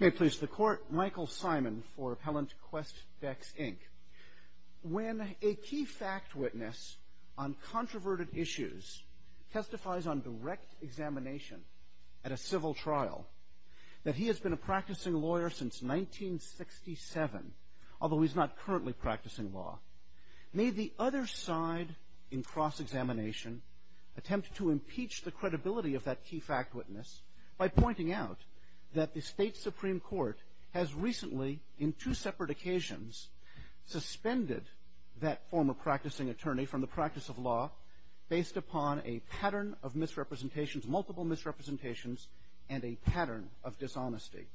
May it please the Court, Michael Simon for Appellant Qwest Dex, Inc. When a key fact witness on controverted issues testifies on direct examination at a civil trial that he has been a practicing lawyer since 1967, although he's not currently practicing law, may the other side in cross-examination attempt to impeach the credibility of that key fact witness by pointing out that the State Supreme Court has recently, in two separate occasions, suspended that former practicing attorney from the practice of law based upon a pattern of misrepresentations, multiple misrepresentations, and a pattern of dishonesty.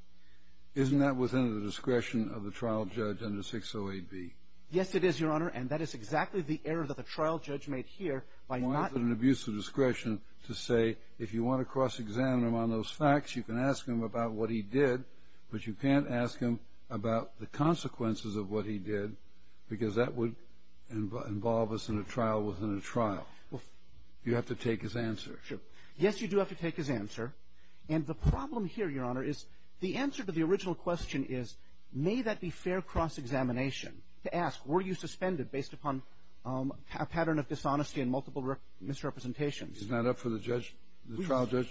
Isn't that within the discretion of the trial judge under 608B? Yes, it is, Your Honor, and that is exactly the error that the trial judge made here by not Why is it an abuse of discretion to say, if you want to cross-examine him on those facts, you can ask him about what he did, but you can't ask him about the consequences of what he did because that would involve us in a trial within a trial. You have to take his answer. Yes, you do have to take his answer. And the problem here, Your Honor, is the answer to the original question is, may that be fair cross-examination to ask, were you suspended based upon a pattern of dishonesty and multiple misrepresentations? Isn't that up for the judge, the trial judge?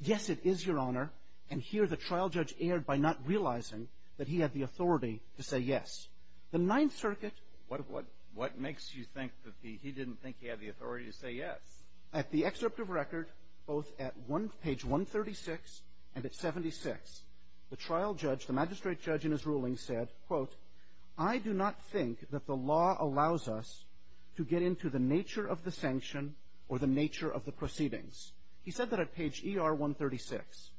Yes, it is, Your Honor. And here the trial judge erred by not realizing that he had the authority to say yes. The Ninth Circuit What makes you think that he didn't think he had the authority to say yes? At the excerpt of record, both at page 136 and at 76, the trial judge, the magistrate judge in his ruling said, quote, I do not think that the law allows us to get into the nature of the sanction or the nature of the proceedings. He said that at page ER 136.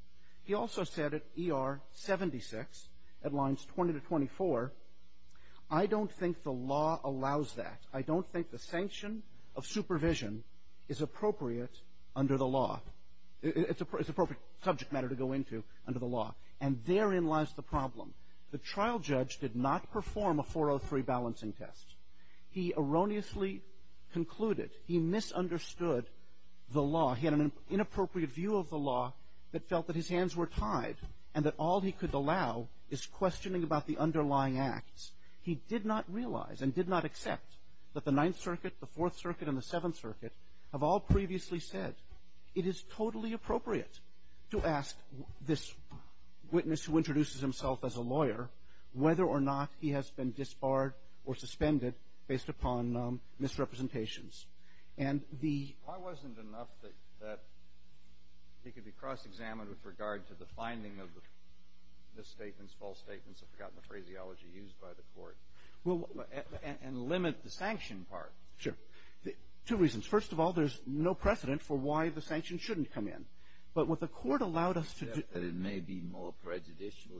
He also said at ER 76, at lines 20 to 24, I don't think the law allows that. I don't think the sanction of supervision is appropriate under the law. It's appropriate subject matter to go into under the law. And therein lies the problem. The trial judge did not perform a 403 balancing test. He erroneously concluded, he misunderstood the law. He had an inappropriate view of the law that felt that his hands were tied and that all he could allow is questioning about the underlying acts. He did not realize and did not accept that the Ninth Circuit, the Fourth Circuit, and the Seventh Circuit have all previously said, it is totally appropriate to ask this witness who introduces himself as a lawyer whether or not he has been disbarred or suspended based upon misrepresentations. And the ---- Why wasn't enough that he could be cross-examined with regard to the finding of the statements, false statements, I've forgotten the phraseology used by the Court and limit the sanction part? Sure. Two reasons. First of all, there's no precedent for why the sanction shouldn't come in. But what the Court allowed us to do ---- That it may be more prejudicial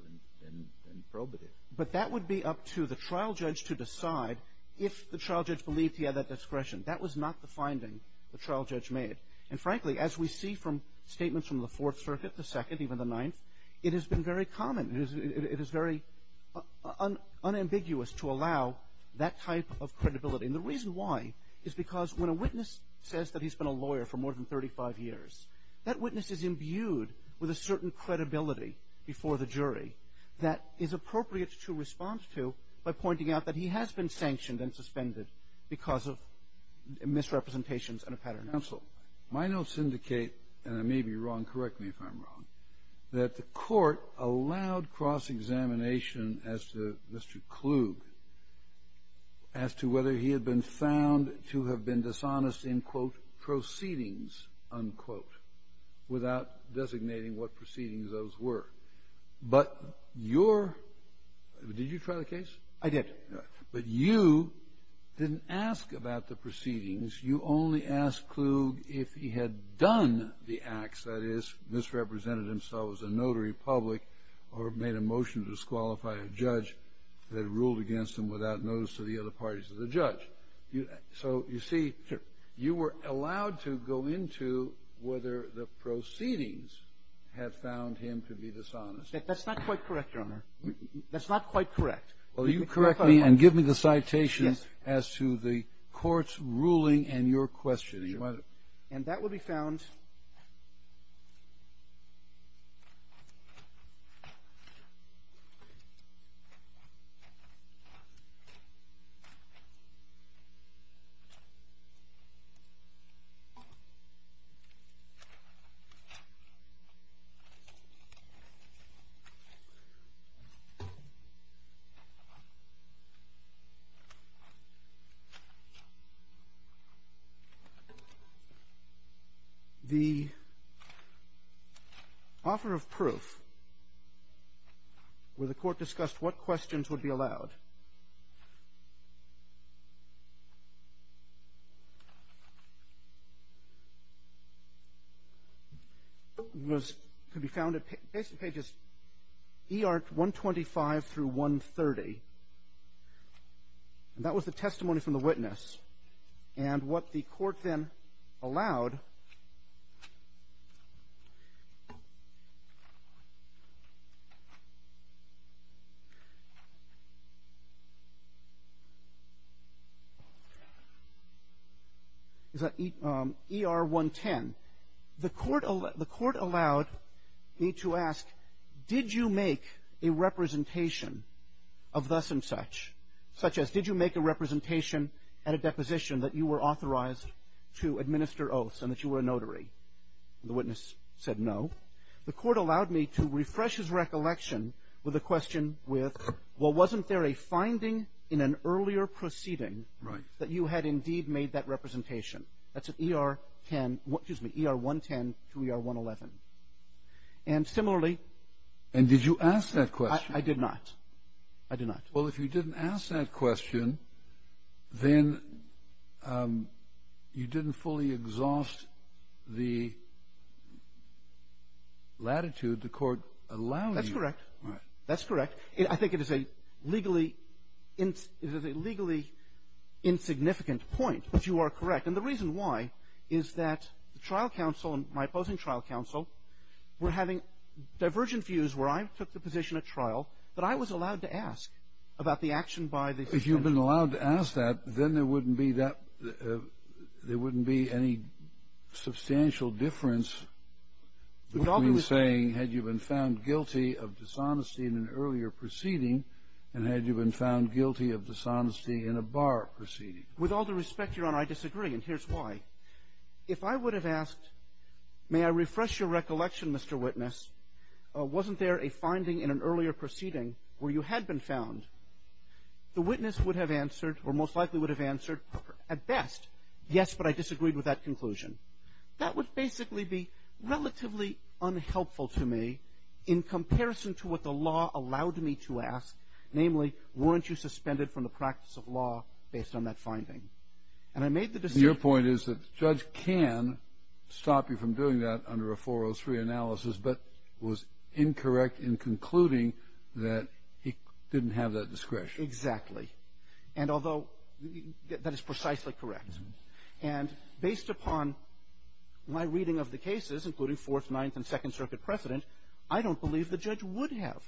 than probative. But that would be up to the trial judge to decide if the trial judge believed he had that discretion. That was not the finding the trial judge made. And frankly, as we see from statements from the Fourth Circuit, the Second, even the Ninth, it has been very common. It is very unambiguous to allow that type of credibility. And the reason why is because when a witness says that he's been a lawyer for more than 35 years, that witness is imbued with a certain credibility before the jury that is appropriate to respond to by pointing out that he has been sanctioned and suspended because of misrepresentations and a pattern. Counsel, my notes indicate, and I may be wrong, correct me if I'm wrong, that the Court allowed cross-examination as to Mr. Klug, as to whether he had been found to have been dishonest in, quote, proceedings, unquote, without designating what proceedings those were. But your ---- Did you try the case? I did. But you didn't ask about the proceedings. You only asked Klug if he had done the acts, that is, misrepresented himself as a notary public or made a motion to disqualify a judge that had ruled against him without notice to the other parties of the judge. So you see, you were allowed to go into whether the proceedings had found him to be dishonest. That's not quite correct, Your Honor. That's not quite correct. Well, you correct me and give me the citation as to the Court's ruling and your questioning. And that will be found The offer of proof where the Court discussed what questions would be allowed was to be found at basically pages ER 125 through 130, and that was the testimony from the witness. And what the Court then allowed is at ER 110. The Court allowed me to ask, did you make a representation of thus and such, such as did you make a representation at a deposition that you were authorized to administer oaths and that you were a notary? The witness said no. The Court allowed me to refresh his recollection with a question with, well, wasn't there a finding in an earlier proceeding that you had indeed made that representation? That's at ER 10 ---- excuse me, ER 110 to ER 111. And similarly ---- And did you ask that question? I did not. I did not. Well, if you didn't ask that question, then you didn't fully exhaust the latitude the Court allowed you. That's correct. All right. That's correct. I think it is a legally ---- it is a legally insignificant point, but you are correct. And the reason why is that the trial counsel and my opposing trial counsel were having divergent views where I took the position at trial that I was allowed to ask about the action by the ---- If you've been allowed to ask that, then there wouldn't be that ---- there wouldn't be any substantial difference between saying had you been found guilty of dishonesty in an earlier proceeding and had you been found guilty of dishonesty in a bar proceeding. With all due respect, Your Honor, I disagree, and here's why. If I would have asked, may I refresh your recollection, Mr. Witness, wasn't there a finding in an earlier proceeding where you had been found, the witness would have answered or most likely would have answered at best, yes, but I disagreed with that conclusion. That would basically be relatively unhelpful to me in comparison to what the law allowed me to ask, namely, weren't you suspended from the practice of law based on that finding? And I made the decision ---- The judge can stop you from doing that under a 403 analysis, but was incorrect in concluding that he didn't have that discretion. Exactly. And although that is precisely correct. And based upon my reading of the cases, including Fourth, Ninth, and Second Circuit precedent, I don't believe the judge would have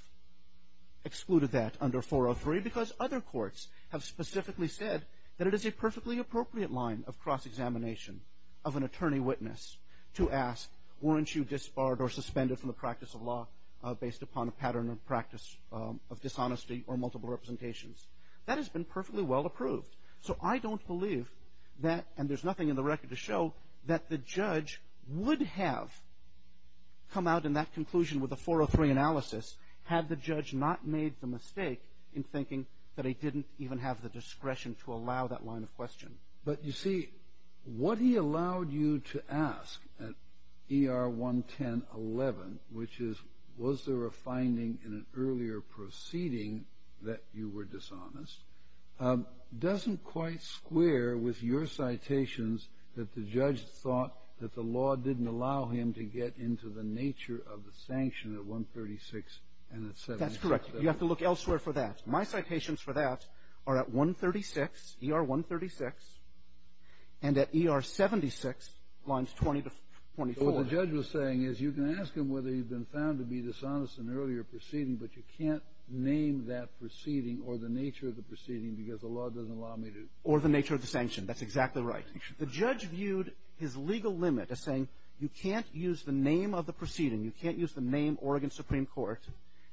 excluded that under 403 because other courts have specifically said that it is a perfectly appropriate line of cross-examination of an attorney witness to ask, weren't you disbarred or suspended from the practice of law based upon a pattern of practice of dishonesty or multiple representations? That has been perfectly well approved. So I don't believe that, and there's nothing in the record to show, that the judge would have come out in that conclusion with a 403 analysis had the judge not made the mistake in thinking that he didn't even have the discretion to allow that line of question. But, you see, what he allowed you to ask at ER 11011, which is, was there a finding in an earlier proceeding that you were dishonest, doesn't quite square with your citations that the judge thought that the law didn't allow him to get into the nature of the sanction at 136 and at 76. That's correct. You have to look elsewhere for that. My citations for that are at 136, ER 136, and at ER 76, lines 20 to 24. So what the judge was saying is you can ask him whether he'd been found to be dishonest in an earlier proceeding, but you can't name that proceeding or the nature of the proceeding because the law doesn't allow me to. Or the nature of the sanction. That's exactly right. The judge viewed his legal limit as saying you can't use the name of the proceeding, you can't use the name Oregon Supreme Court,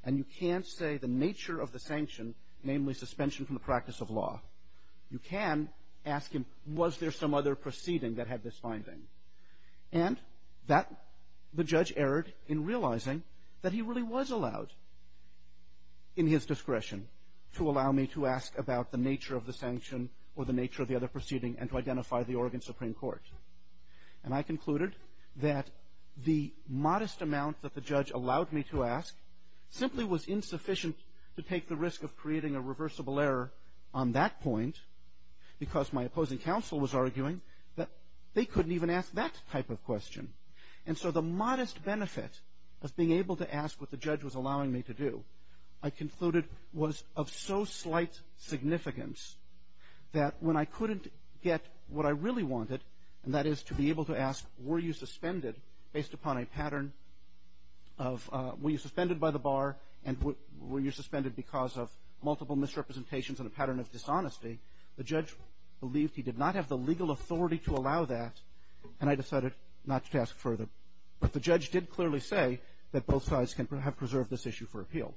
and you can't say the nature of the sanction, namely suspension from the practice of law. You can ask him was there some other proceeding that had this finding. And that the judge erred in realizing that he really was allowed in his discretion to allow me to ask about the nature of the sanction or the nature of the other proceeding and to identify the Oregon Supreme Court. And I concluded that the modest amount that the judge allowed me to ask simply was insufficient to take the risk of creating a reversible error on that point because my opposing counsel was arguing that they couldn't even ask that type of question. And so the modest benefit of being able to ask what the judge was allowing me to do, I concluded was of so slight significance that when I couldn't get what I really wanted, and that is to be able to ask were you suspended based upon a pattern of were you suspended by the bar and were you suspended because of multiple misrepresentations and a pattern of dishonesty, the judge believed he did not have the legal authority to allow that and I decided not to ask further. But the judge did clearly say that both sides can have preserved this issue for appeal.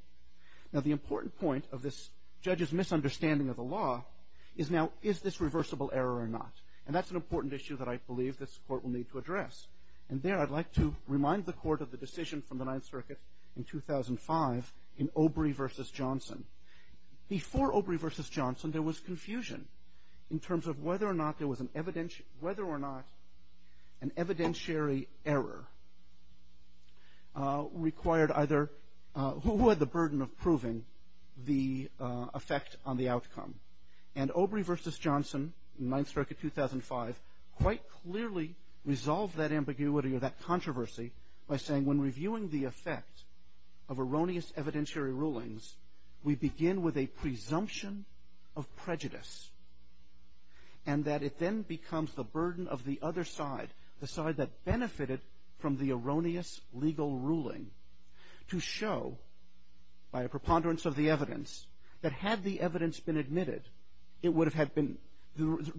Now the important point of this judge's misunderstanding of the law is now is this reversible error or not? And that's an important issue that I believe this Court will need to address. And there I'd like to remind the Court of the decision from the Ninth Circuit in 2005 in Obrey v. Johnson. Before Obrey v. Johnson, there was confusion in terms of whether or not there was an evidentiary error required either who had the burden of proving the effect on the outcome. And Obrey v. Johnson in Ninth Circuit 2005 quite clearly resolved that ambiguity or that controversy by saying when reviewing the effect of erroneous evidentiary rulings, we begin with a presumption of prejudice and that it then becomes the burden of the other side, the side that benefited from the erroneous legal ruling to show by a preponderance of the evidence that had the evidence been admitted, the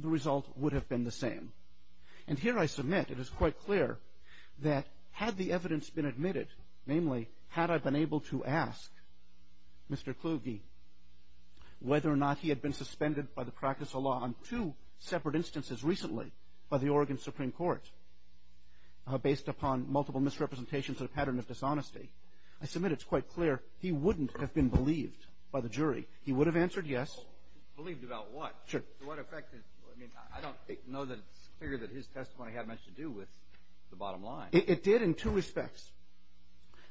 result would have been the same. And here I submit it is quite clear that had the evidence been admitted, namely, had I been able to ask Mr. Kluge whether or not he had been suspended by the practice of law on two separate instances recently by the Oregon Supreme Court based upon multiple misrepresentations and a pattern of dishonesty, I submit it's quite clear he wouldn't have been believed by the jury. He would have answered yes. Believed about what? Sure. To what effect? I mean, I don't know that it's clear that his testimony had much to do with the bottom line. It did in two respects.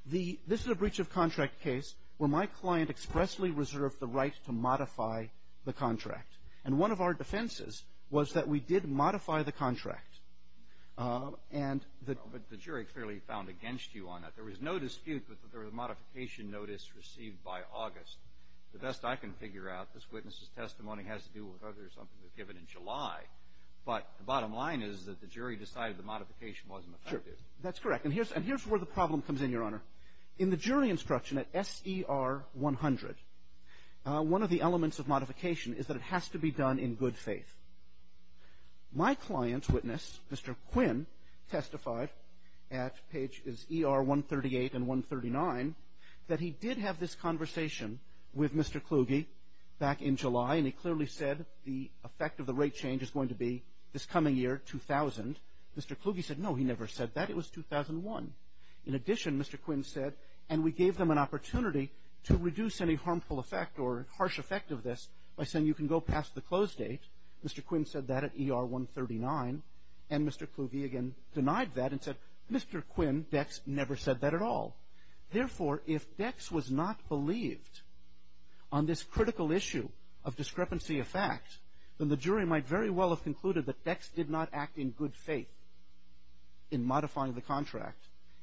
This is a breach-of-contract case where my client expressly reserved the right to modify the contract. And one of our defenses was that we did modify the contract. But the jury clearly found against you on that. There was no dispute that there was a modification notice received by August. The best I can figure out, this witness's testimony has to do with whether something was given in July. But the bottom line is that the jury decided the modification wasn't effective. Sure. That's correct. And here's where the problem comes in, Your Honor. In the jury instruction at S.E.R. 100, one of the elements of modification is that it has to be done in good faith. My client's witness, Mr. Quinn, testified at pages E.R. 138 and 139 that he did have this conversation with Mr. Kluge back in July. And he clearly said the effect of the rate change is going to be this coming year, 2000. Mr. Kluge said, no, he never said that. It was 2001. In addition, Mr. Quinn said, and we gave them an opportunity to reduce any harmful effect or harsh effect of this by saying you can go past the close date. Mr. Quinn said that at E.R. 139. And Mr. Kluge again denied that and said, Mr. Quinn, Dex, never said that at all. Therefore, if Dex was not believed on this critical issue of discrepancy of fact, then the jury might very well have concluded that Dex did not act in good faith in modifying the contract.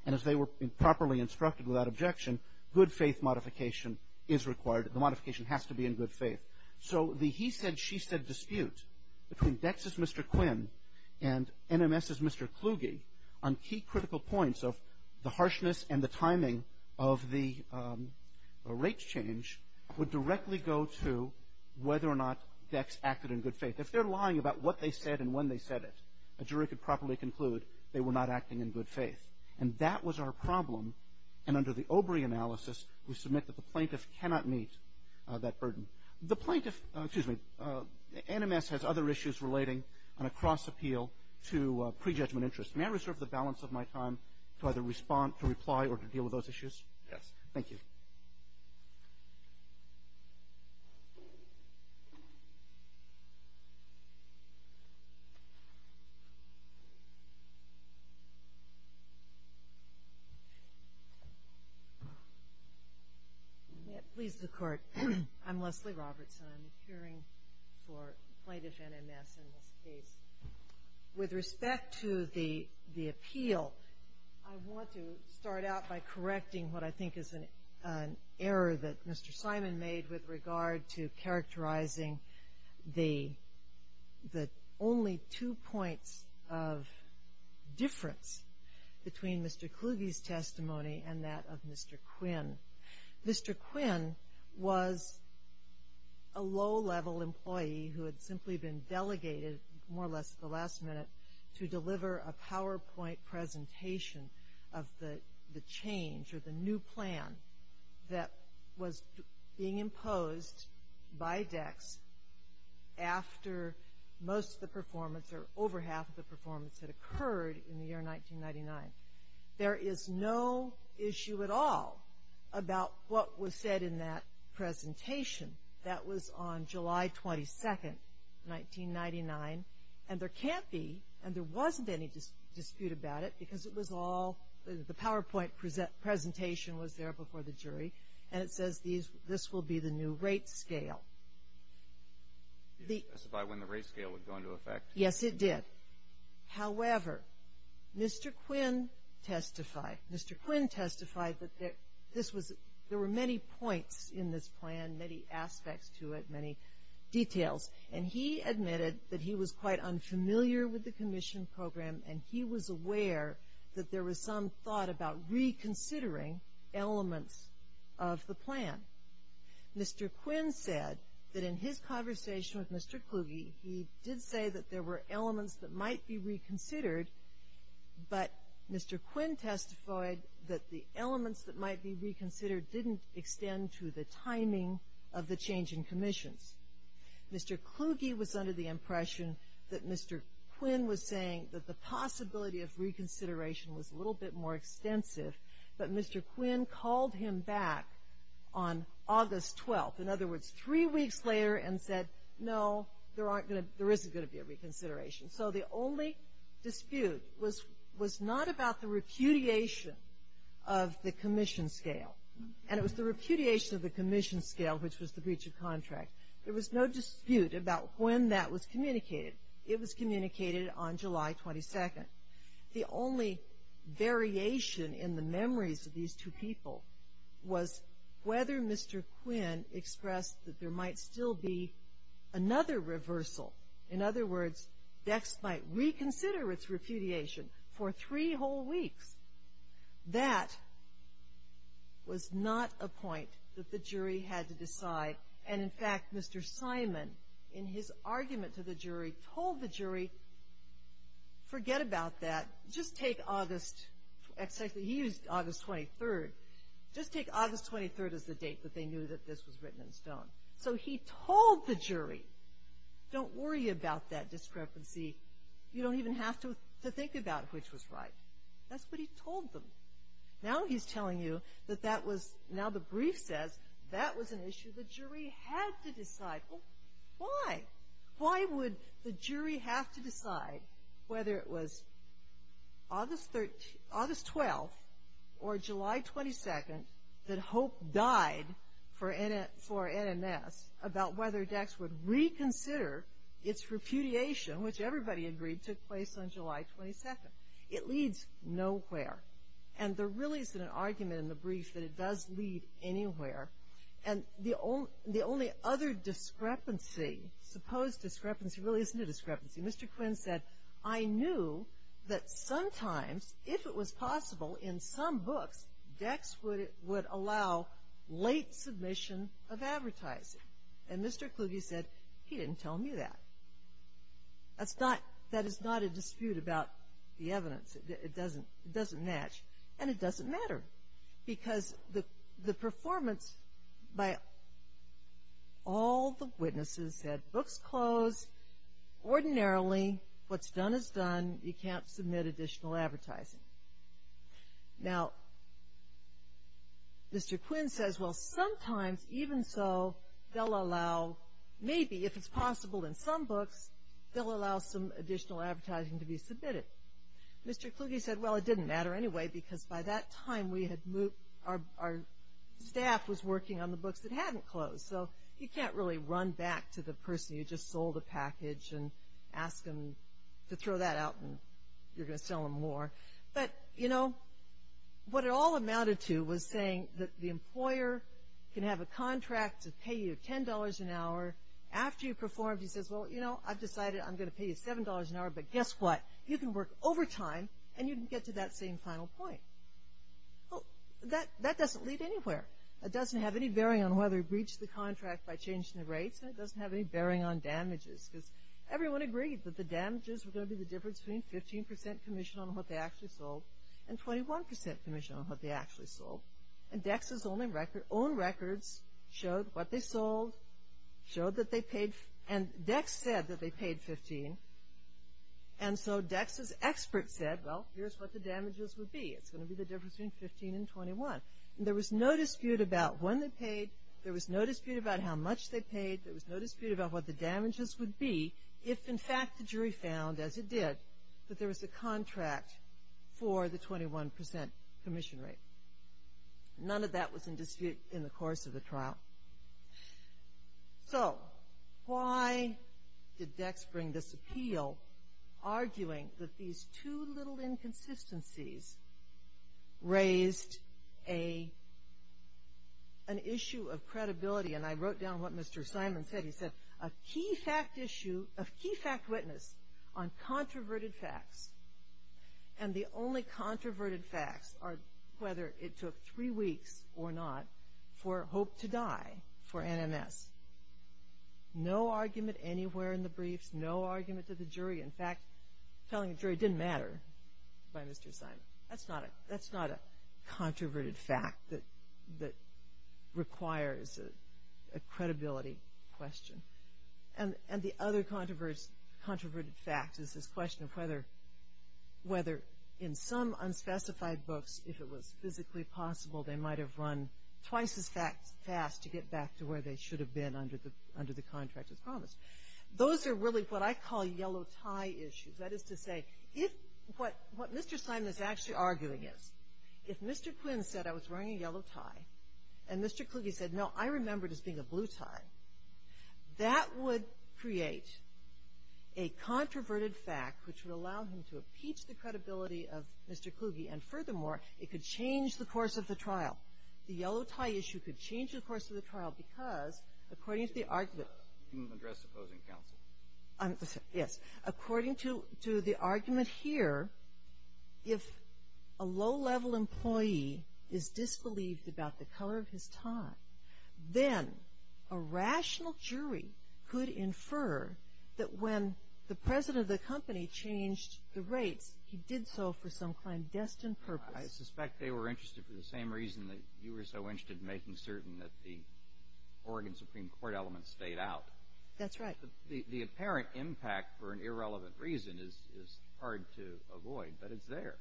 And as they were properly instructed without objection, good faith modification is required. The modification has to be in good faith. So the he said, she said dispute between Dex's Mr. Quinn and NMS's Mr. Kluge on key critical points of the harshness and the timing of the rates change would directly go to whether or not Dex acted in good faith. If they're lying about what they said and when they said it, a jury could properly conclude they were not acting in good faith. And that was our problem. And under the OBRI analysis, we submit that the plaintiff cannot meet that burden. The plaintiff, excuse me, NMS has other issues relating on a cross-appeal to prejudgment interest. May I reserve the balance of my time to either respond, to reply, or to deal with those issues? Yes. Thank you. Yes. Please, the court. I'm Leslie Robertson. I'm the hearing for plaintiff NMS in this case. With respect to the appeal, I want to start out by correcting what I think is an error that Mr. Simon made with regard to characterizing the only two points of difference between Mr. Kluge's testimony and that of Mr. Quinn. Mr. Quinn was a low-level employee who had simply been delegated, more or less at the last minute, to deliver a PowerPoint presentation of the change or the new plan that was being imposed by DECCS after most of the performance, or over half of the performance, had occurred in the year 1999. There is no issue at all about what was said in that presentation. That was on July 22, 1999, and there can't be, and there wasn't any dispute about it because it was all, the PowerPoint presentation was there before the jury, and it says this will be the new rate scale. Did it specify when the rate scale would go into effect? Yes, it did. However, Mr. Quinn testified. Mr. Quinn testified that there were many points in this plan, many aspects to it, many details, and he admitted that he was quite unfamiliar with the commission program, and he was aware that there was some thought about reconsidering elements of the plan. Mr. Quinn said that in his conversation with Mr. Kluge, he did say that there were elements that might be reconsidered, but Mr. Quinn testified that the elements that might be reconsidered didn't extend to the timing of the change in commissions. Mr. Kluge was under the impression that Mr. Quinn was saying that the possibility of reconsideration was a little bit more extensive, but Mr. Quinn called him back on August 12th, in other words, three weeks later and said, no, there isn't going to be a reconsideration. So the only dispute was not about the repudiation of the commission scale, and it was the repudiation of the commission scale, which was the breach of contract. There was no dispute about when that was communicated. It was communicated on July 22nd. The only variation in the memories of these two people was whether Mr. Quinn expressed that there might still be another reversal. In other words, Dext might reconsider its repudiation for three whole weeks. That was not a point that the jury had to decide, and, in fact, Mr. Simon, in his argument to the jury, told the jury, forget about that. Just take August, he used August 23rd. Just take August 23rd as the date that they knew that this was written in stone. So he told the jury, don't worry about that discrepancy. You don't even have to think about which was right. That's what he told them. Now he's telling you that that was, now the brief says that was an issue the jury had to decide. Well, why? Why would the jury have to decide whether it was August 12th or July 22nd that Hope died for NNS about whether Dext would reconsider its repudiation, which everybody agreed took place on July 22nd. It leads nowhere. And there really isn't an argument in the brief that it does lead anywhere. And the only other discrepancy, supposed discrepancy, really isn't a discrepancy. Mr. Quinn said, I knew that sometimes, if it was possible, in some books, Dext would allow late submission of advertising. And Mr. Kluge said, he didn't tell me that. That's not, that is not a dispute about the evidence. It doesn't match. And it doesn't matter, because the performance by all the witnesses said, books closed, ordinarily, what's done is done. You can't submit additional advertising. Now, Mr. Quinn says, well, sometimes, even so, they'll allow, maybe if it's possible in some books, they'll allow some additional advertising to be submitted. Mr. Kluge said, well, it didn't matter anyway, because by that time our staff was working on the books that hadn't closed. So you can't really run back to the person who just sold a package and ask them to throw that out and you're going to sell them more. But, you know, what it all amounted to was saying that the employer can have a contract to pay you $10 an hour after you perform. He says, well, you know, I've decided I'm going to pay you $7 an hour, but guess what? You can work overtime and you can get to that same final point. Well, that doesn't lead anywhere. It doesn't have any bearing on whether he breached the contract by changing the rates, and it doesn't have any bearing on damages, because everyone agreed that the damages were going to be the difference between 15% commission on what they actually sold and 21% commission on what they actually sold. And Dex's own records showed what they sold, showed that they paid, and Dex said that they paid 15. And so Dex's expert said, well, here's what the damages would be. It's going to be the difference between 15 and 21. There was no dispute about when they paid. There was no dispute about how much they paid. There was no dispute about what the damages would be if, in fact, the jury found, as it did, that there was a contract for the 21% commission rate. None of that was in dispute in the course of the trial. So why did Dex bring this appeal, arguing that these two little inconsistencies raised an issue of credibility? And I wrote down what Mr. Simon said. He said, a key fact witness on controverted facts, and the only controverted facts are whether it took three weeks or not for Hope to die for NMS. No argument anywhere in the briefs, no argument to the jury. In fact, telling the jury didn't matter by Mr. Simon. That's not a controverted fact that requires a credibility question. And the other controverted fact is this question of whether in some unspecified books, if it was physically possible, they might have run twice as fast to get back to where they should have been under the contract as promised. Those are really what I call yellow tie issues. That is to say, what Mr. Simon is actually arguing is, if Mr. Quinn said I was wearing a yellow tie, and Mr. Kluge said, no, I remember this being a blue tie, that would create a controverted fact, which would allow him to impeach the credibility of Mr. Kluge, and furthermore, it could change the course of the trial. The yellow tie issue could change the course of the trial because, according to the argument. You addressed opposing counsel. Yes. According to the argument here, if a low-level employee is disbelieved about the color of his tie, then a rational jury could infer that when the president of the company changed the rates, he did so for some clandestine purpose. I suspect they were interested for the same reason that you were so interested in making certain that the Oregon Supreme Court elements stayed out. That's right. The apparent impact for an irrelevant reason is hard to avoid, but it's there.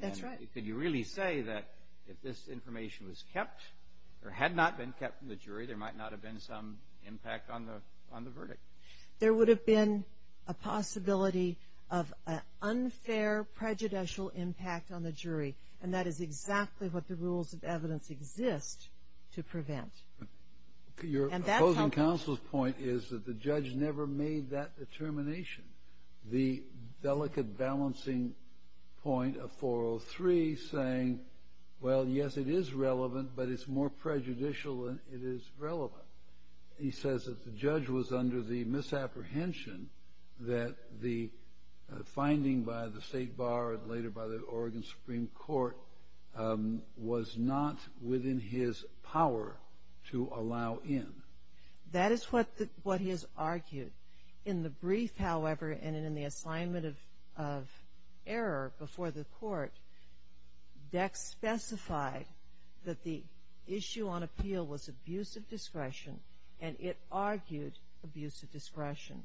That's right. Could you really say that if this information was kept or had not been kept from the jury, there might not have been some impact on the verdict? There would have been a possibility of an unfair prejudicial impact on the jury, and that is exactly what the rules of evidence exist to prevent. Your opposing counsel's point is that the judge never made that determination. The delicate balancing point of 403 saying, well, yes, it is relevant, but it's more prejudicial than it is relevant. He says that the judge was under the misapprehension that the finding by the state bar and later by the Oregon Supreme Court was not within his power to allow in. That is what he has argued. In the brief, however, and in the assignment of error before the court, Dex specified that the issue on appeal was abuse of discretion, and it argued abuse of discretion.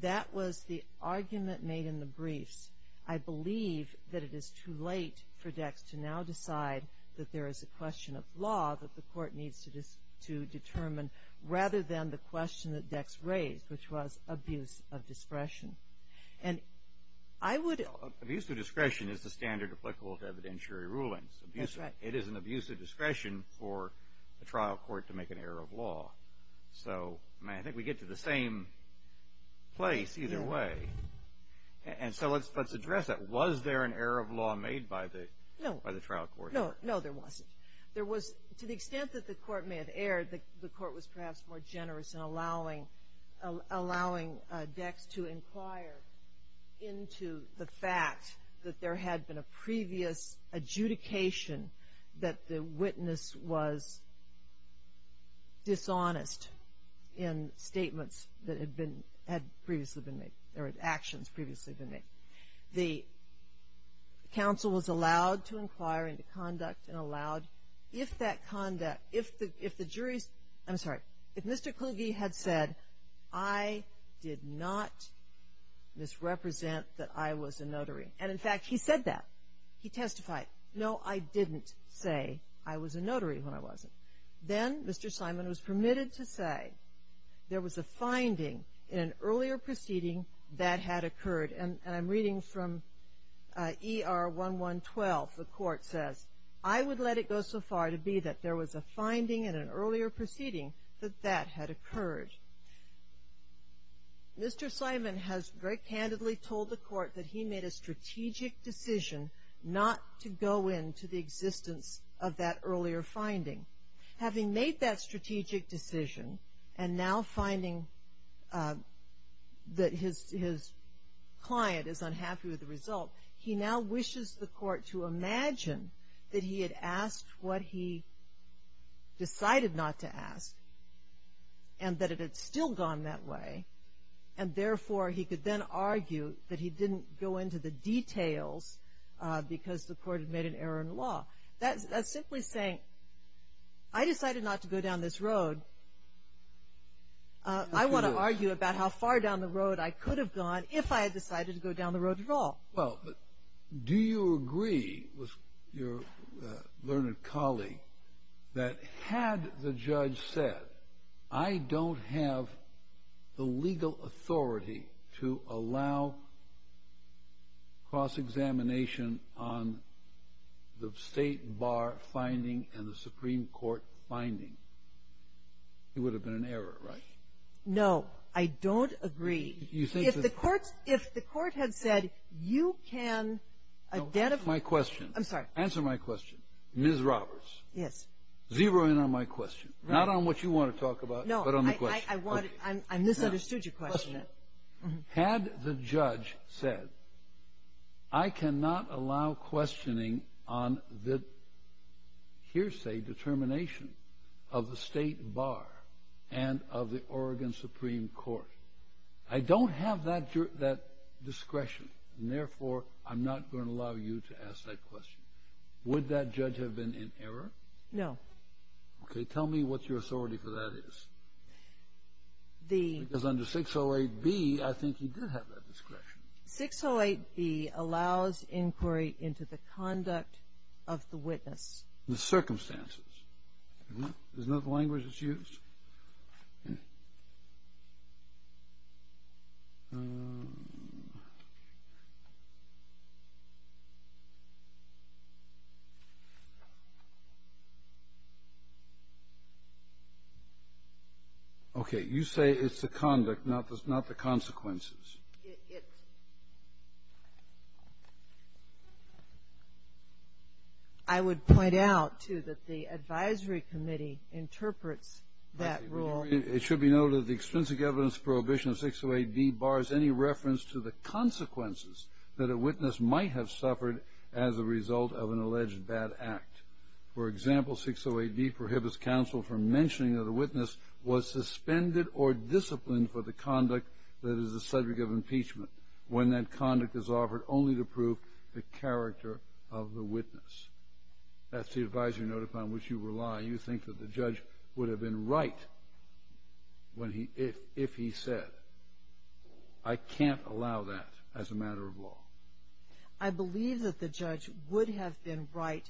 That was the argument made in the briefs. I believe that it is too late for Dex to now decide that there is a question of law that the court needs to determine rather than the question that Dex raised, which was abuse of discretion. Abuse of discretion is the standard applicable to evidentiary rulings. It is an abuse of discretion for the trial court to make an error of law. I think we get to the same place either way. Let's address that. Was there an error of law made by the trial court? No, there wasn't. There was, to the extent that the court may have erred, the court was perhaps more generous in allowing Dex to inquire into the fact that there had been a previous adjudication that the witness was dishonest in statements that had previously been made or actions previously been made. The counsel was allowed to inquire into conduct and allowed, if that conduct, if the jury's, I'm sorry, if Mr. Kluge had said, I did not misrepresent that I was a notary, and in fact, he said that. He testified. No, I didn't say I was a notary when I wasn't. Then Mr. Simon was permitted to say there was a finding in an earlier proceeding that had occurred, and I'm reading from ER 1112. The court says, I would let it go so far to be that there was a finding in an earlier proceeding that that had occurred. Mr. Simon has very candidly told the court that he made a strategic decision not to go into the existence of that earlier finding. Having made that strategic decision and now finding that his client is unhappy with the result, he now wishes the court to imagine that he had asked what he decided not to ask and that it had still gone that way, and therefore, he could then argue that he didn't go into the details because the court had made an error in the law. That's simply saying, I decided not to go down this road. I want to argue about how far down the road I could have gone if I had decided to go down the road at all. Well, do you agree with your learned colleague that had the judge said, I don't have the legal authority to allow cross-examination on the State Bar finding and the Supreme Court finding? It would have been an error, right? No. I don't agree. If the court had said, you can identify my question. I'm sorry. Answer my question. Ms. Roberts. Yes. Zero in on my question. Not on what you want to talk about, but on the question. No, I misunderstood your question. Had the judge said, I cannot allow questioning on the hearsay determination of the State Bar and of the Oregon Supreme Court. I don't have that discretion, and therefore, I'm not going to allow you to ask that question. Would that judge have been in error? No. Okay. Tell me what your authority for that is. Because under 608B, I think he did have that discretion. 608B allows inquiry into the conduct of the witness. The circumstances. Isn't that the language that's used? Okay. You say it's the conduct, not the consequences. It's – I would point out, too, that the advisory committee interprets that rule. It should be noted that the extrinsic evidence prohibition of 608B bars any reference to the consequences that a witness might have suffered as a result of an alleged bad act. For example, 608B prohibits counsel from mentioning that a witness was suspended or disciplined for the conduct that is the subject of impeachment when that conduct is offered only to prove the character of the witness. That's the advisory notify on which you rely. You think that the judge would have been right if he said, I can't allow that as a matter of law. I believe that the judge would have been right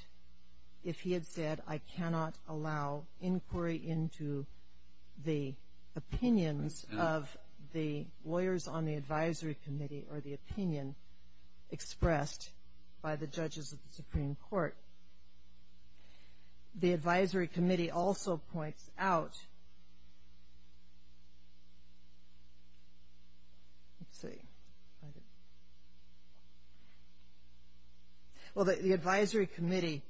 if he had said, I cannot allow inquiry into the opinions of the lawyers on the advisory committee or the opinion expressed by the judges of the Supreme Court. The advisory committee also points out – let's see. Well, the advisory committee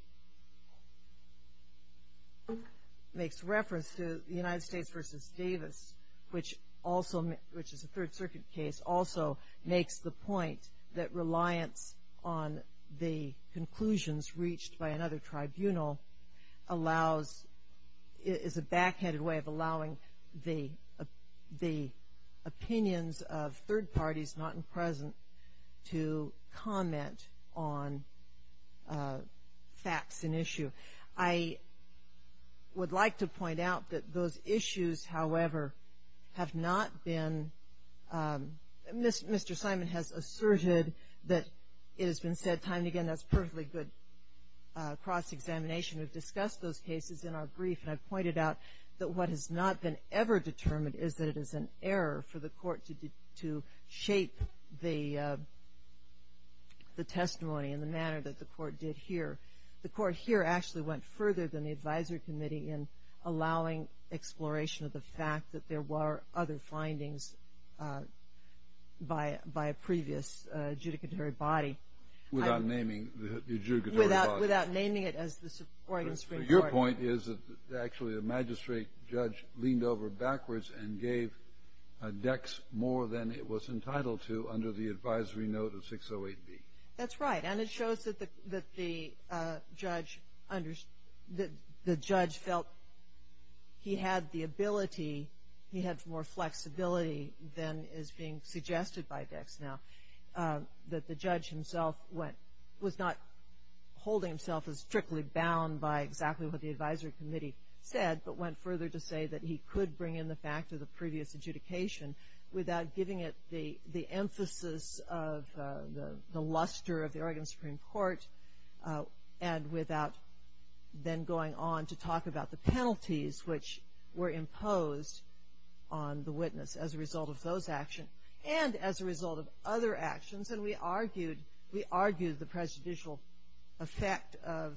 makes reference to the United States v. Davis, which is a Third Circuit case, also makes the point that reliance on the conclusions reached by another tribunal is a backhanded way of allowing the opinions of third parties, not in present, to comment on facts and issue. I would like to point out that those issues, however, have not been – cross-examination, we've discussed those cases in our brief, and I've pointed out that what has not been ever determined is that it is an error for the court to shape the testimony in the manner that the court did here. The court here actually went further than the advisory committee in allowing exploration of the fact that there were other findings by a previous judicatory body. Without naming the judicatory body. Without naming it as the Oregon Supreme Court. Your point is that actually the magistrate judge leaned over backwards and gave Dex more than it was entitled to under the advisory note of 608B. That's right. And it shows that the judge felt he had the ability, he had more flexibility than is being suggested by Dex now, that the judge himself was not holding himself as strictly bound by exactly what the advisory committee said, but went further to say that he could bring in the fact of the previous adjudication without giving it the emphasis of the luster of the Oregon Supreme Court and without then going on to talk about the penalties which were imposed on the witness as a result of those actions and as a result of other actions. And we argued the prejudicial effect of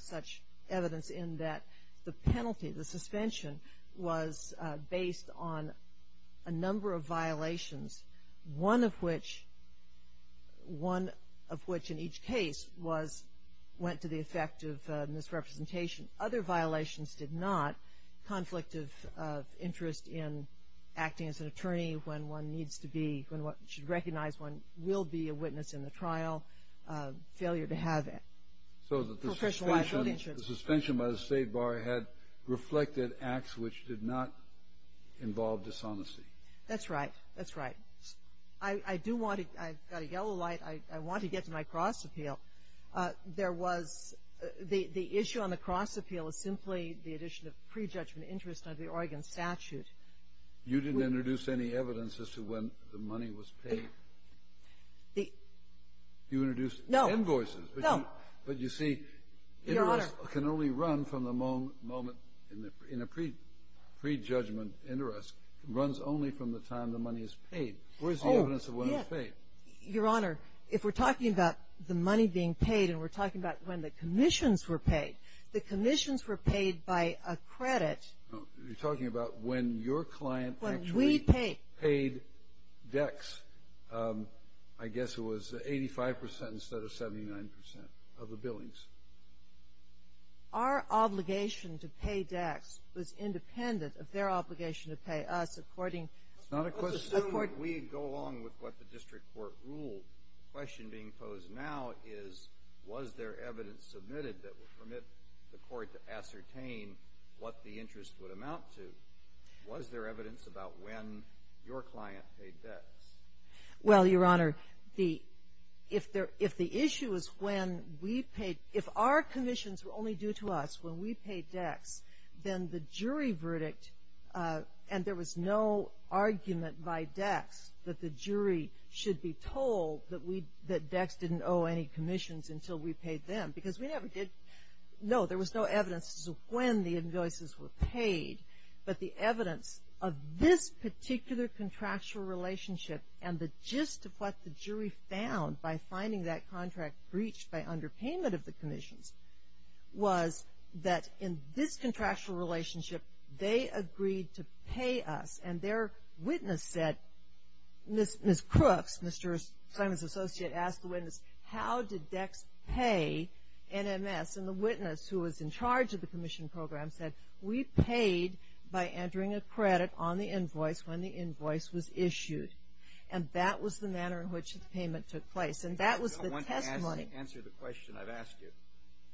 such evidence in that the penalty, the suspension was based on a number of violations, one of which in each case went to the effect of misrepresentation. Other violations did not. Conflict of interest in acting as an attorney when one needs to be, when one should recognize one will be a witness in the trial, failure to have professional liability insurance. So the suspension by the state bar had reflected acts which did not involve dishonesty. That's right. That's right. I do want to – I've got a yellow light. I want to get to my cross appeal. There was – the issue on the cross appeal is simply the addition of prejudgment interest under the Oregon statute. You didn't introduce any evidence as to when the money was paid? You introduced invoices. No, no. But you see, interest can only run from the moment in a prejudgment interest. It runs only from the time the money is paid. Where's the evidence of when it's paid? Your Honor, if we're talking about the money being paid and we're talking about when the commissions were paid, the commissions were paid by a credit. You're talking about when your client actually paid DEX. When we paid. I guess it was 85 percent instead of 79 percent of the billings. Our obligation to pay DEX was independent of their obligation to pay us. It's not a question. Assuming we go along with what the district court ruled, the question being posed now is was there evidence submitted that would permit the court to ascertain what the interest would amount to? Was there evidence about when your client paid DEX? Well, Your Honor, if the issue is when we paid – if our commissions were only due to us when we paid DEX, then the jury verdict – and there was no argument by DEX that the jury should be told that DEX didn't owe any commissions until we paid them because we never did. No, there was no evidence as to when the invoices were paid, but the evidence of this particular contractual relationship and the gist of what the jury found by finding that contract breached by underpayment of the commissions was that in this contractual relationship, they agreed to pay us, and their witness said – Ms. Crooks, Mr. Simon's associate, asked the witness, how did DEX pay NMS? And the witness who was in charge of the commission program said, we paid by entering a credit on the invoice when the invoice was issued. And that was the manner in which the payment took place. You don't want to answer the question I've asked you.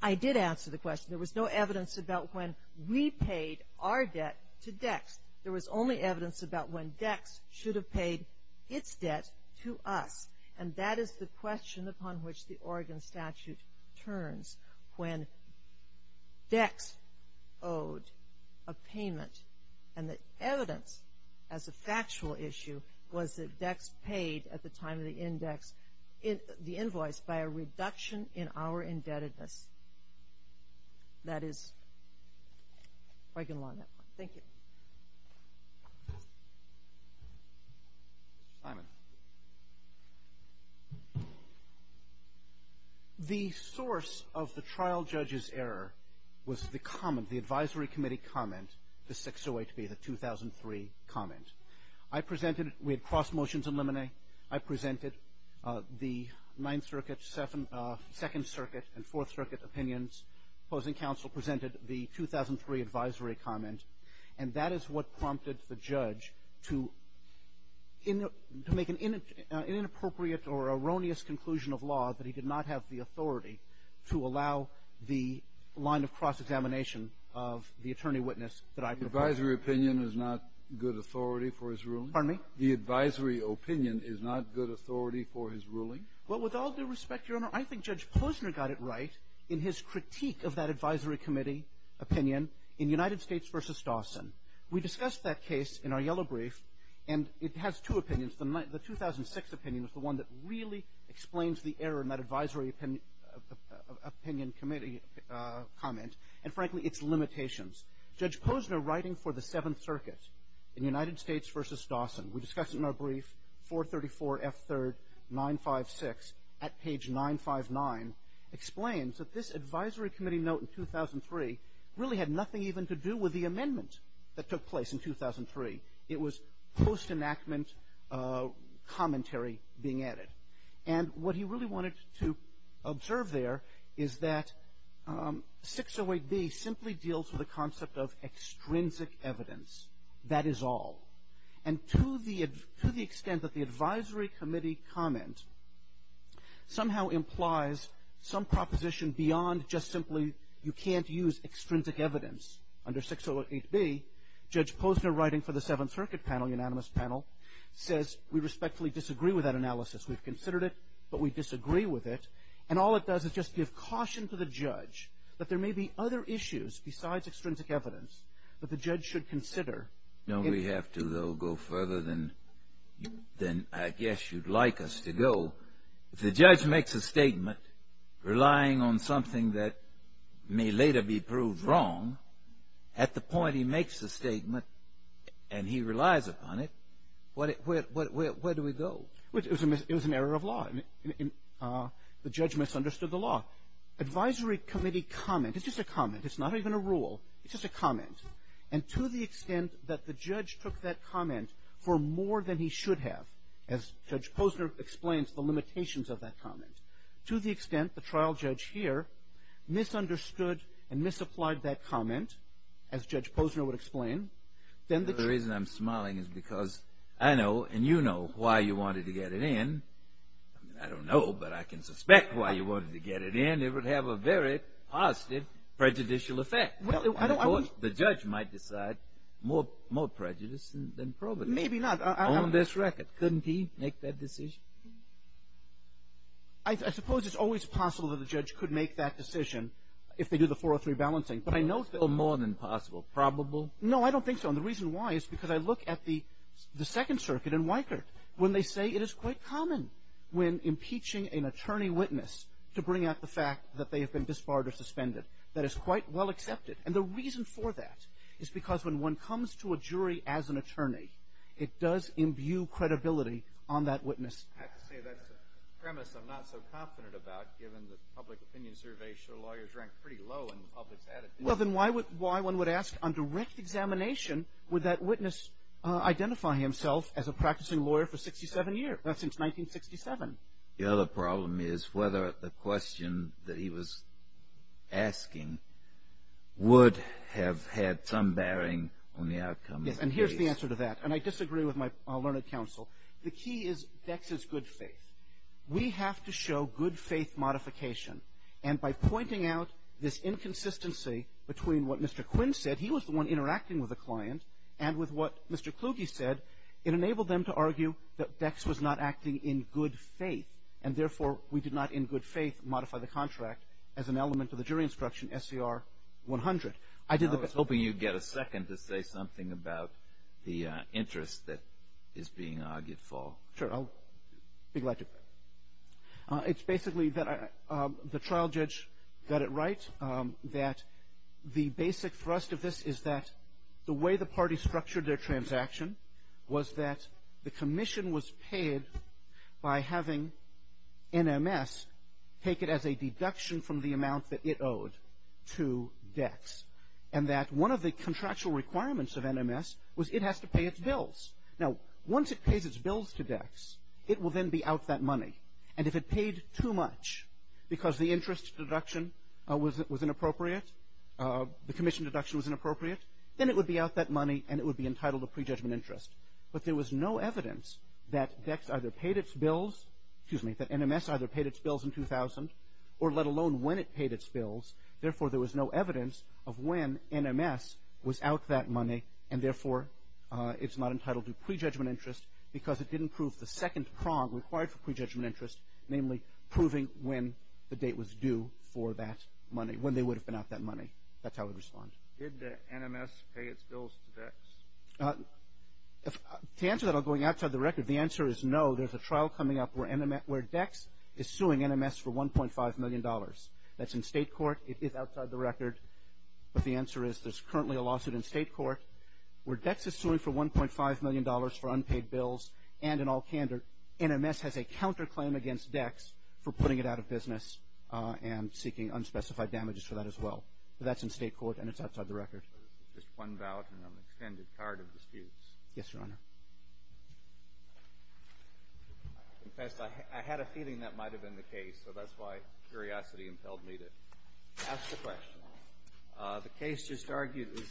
I did answer the question. There was no evidence about when we paid our debt to DEX. There was only evidence about when DEX should have paid its debt to us, and that is the question upon which the Oregon statute turns when DEX owed a payment. And the evidence as a factual issue was that DEX paid at the time of the index the invoice by a reduction in our indebtedness. That is Oregon law at that point. Thank you. Mr. Simon. The source of the trial judge's error was the comment, the advisory committee comment, the 608B, the 2003 comment. I presented it. We had cross motions in limine. I presented the Ninth Circuit, Second Circuit, and Fourth Circuit opinions. Opposing counsel presented the 2003 advisory comment, and that is what prompted the judge to make an inappropriate or erroneous conclusion of law that he did not have the authority to allow the line of cross-examination of the attorney witness that I proposed. Advisory opinion is not good authority for his ruling? Pardon me? The advisory opinion is not good authority for his ruling? Well, with all due respect, Your Honor, I think Judge Posner got it right in his critique of that advisory committee opinion in United States v. Dawson. We discussed that case in our yellow brief, and it has two opinions. The 2006 opinion was the one that really explains the error in that advisory opinion committee comment, and, frankly, its limitations. Judge Posner writing for the Seventh Circuit in United States v. Dawson, we discussed it in our brief, 434F3rd956 at page 959, explains that this advisory committee note in 2003 really had nothing even to do with the amendment that took place in 2003. It was post-enactment commentary being added. And what he really wanted to observe there is that 608B simply deals with the concept of extrinsic evidence. That is all. And to the extent that the advisory committee comment somehow implies some proposition beyond just simply you can't use extrinsic evidence under 608B, Judge Posner writing for the Seventh Circuit panel, unanimous panel, says we respectfully disagree with that analysis. We've considered it, but we disagree with it. And all it does is just give caution to the judge that there may be other issues besides extrinsic evidence that the judge should consider. No, we have to, though, go further than I guess you'd like us to go. If the judge makes a statement relying on something that may later be proved wrong, at the point he makes the statement and he relies upon it, where do we go? It was an error of law. The judge misunderstood the law. Advisory committee comment is just a comment. It's not even a rule. It's just a comment. And to the extent that the judge took that comment for more than he should have, as Judge Posner explains the limitations of that comment, to the extent the trial judge here misunderstood and misapplied that comment, as Judge Posner would explain, then the church. The reason I'm smiling is because I know and you know why you wanted to get it in. I don't know, but I can suspect why you wanted to get it in. It would have a very positive prejudicial effect. The judge might decide more prejudice than probably. Maybe not. On this record. Couldn't he make that decision? I suppose it's always possible that the judge could make that decision if they do the 403 balancing. But I know it's still more than possible. Probable? No, I don't think so. And the reason why is because I look at the Second Circuit in Weikert when they say it is quite common when impeaching an attorney witness to bring out the fact that they have been disbarred or suspended. That is quite well accepted. And the reason for that is because when one comes to a jury as an attorney, it does imbue credibility on that witness. I have to say that's a premise I'm not so confident about given the public opinion survey show lawyers rank pretty low in the public's attitude. Well, then why one would ask on direct examination would that witness identify himself as a practicing lawyer for 67 years? That's since 1967. The other problem is whether the question that he was asking would have had some bearing on the outcome of the case. Yes, and here's the answer to that. And I disagree with my learned counsel. The key is Dex's good faith. We have to show good faith modification. And by pointing out this inconsistency between what Mr. Quinn said, he was the one interacting with the client, and with what Mr. Kluge said, it enabled them to argue that Dex was not acting in good faith. And therefore, we did not, in good faith, modify the contract as an element of the jury instruction SCR 100. I did the best. I was hoping you'd get a second to say something about the interest that is being argued for. Sure. I'll be glad to. It's basically that the trial judge got it right, that the basic thrust of this is that the way the party structured their transaction was that the commission was paid by having NMS take it as a deduction from the amount that it owed to Dex. And that one of the contractual requirements of NMS was it has to pay its bills. Now, once it pays its bills to Dex, it will then be out that money. And if it paid too much because the interest deduction was inappropriate, the commission deduction was inappropriate, then it would be out that money and it would be entitled to prejudgment interest. But there was no evidence that NMS either paid its bills in 2000, or let alone when it paid its bills. Therefore, there was no evidence of when NMS was out that money, and therefore it's not entitled to prejudgment interest because it didn't prove the second prong required for prejudgment interest, namely proving when the date was due for that money, when they would have been out that money. That's how we respond. Did NMS pay its bills to Dex? To answer that, I'll go outside the record. The answer is no. There's a trial coming up where Dex is suing NMS for $1.5 million. That's in state court. It is outside the record. But the answer is there's currently a lawsuit in state court where Dex is suing for $1.5 million for unpaid bills, and in all candor NMS has a counterclaim against Dex for putting it out of business and seeking unspecified damages for that as well. But that's in state court and it's outside the record. Just one ballot and an extended card of disputes. Yes, Your Honor. I confess I had a feeling that might have been the case, so that's why curiosity impelled me to ask the question. The case just argued is submitted.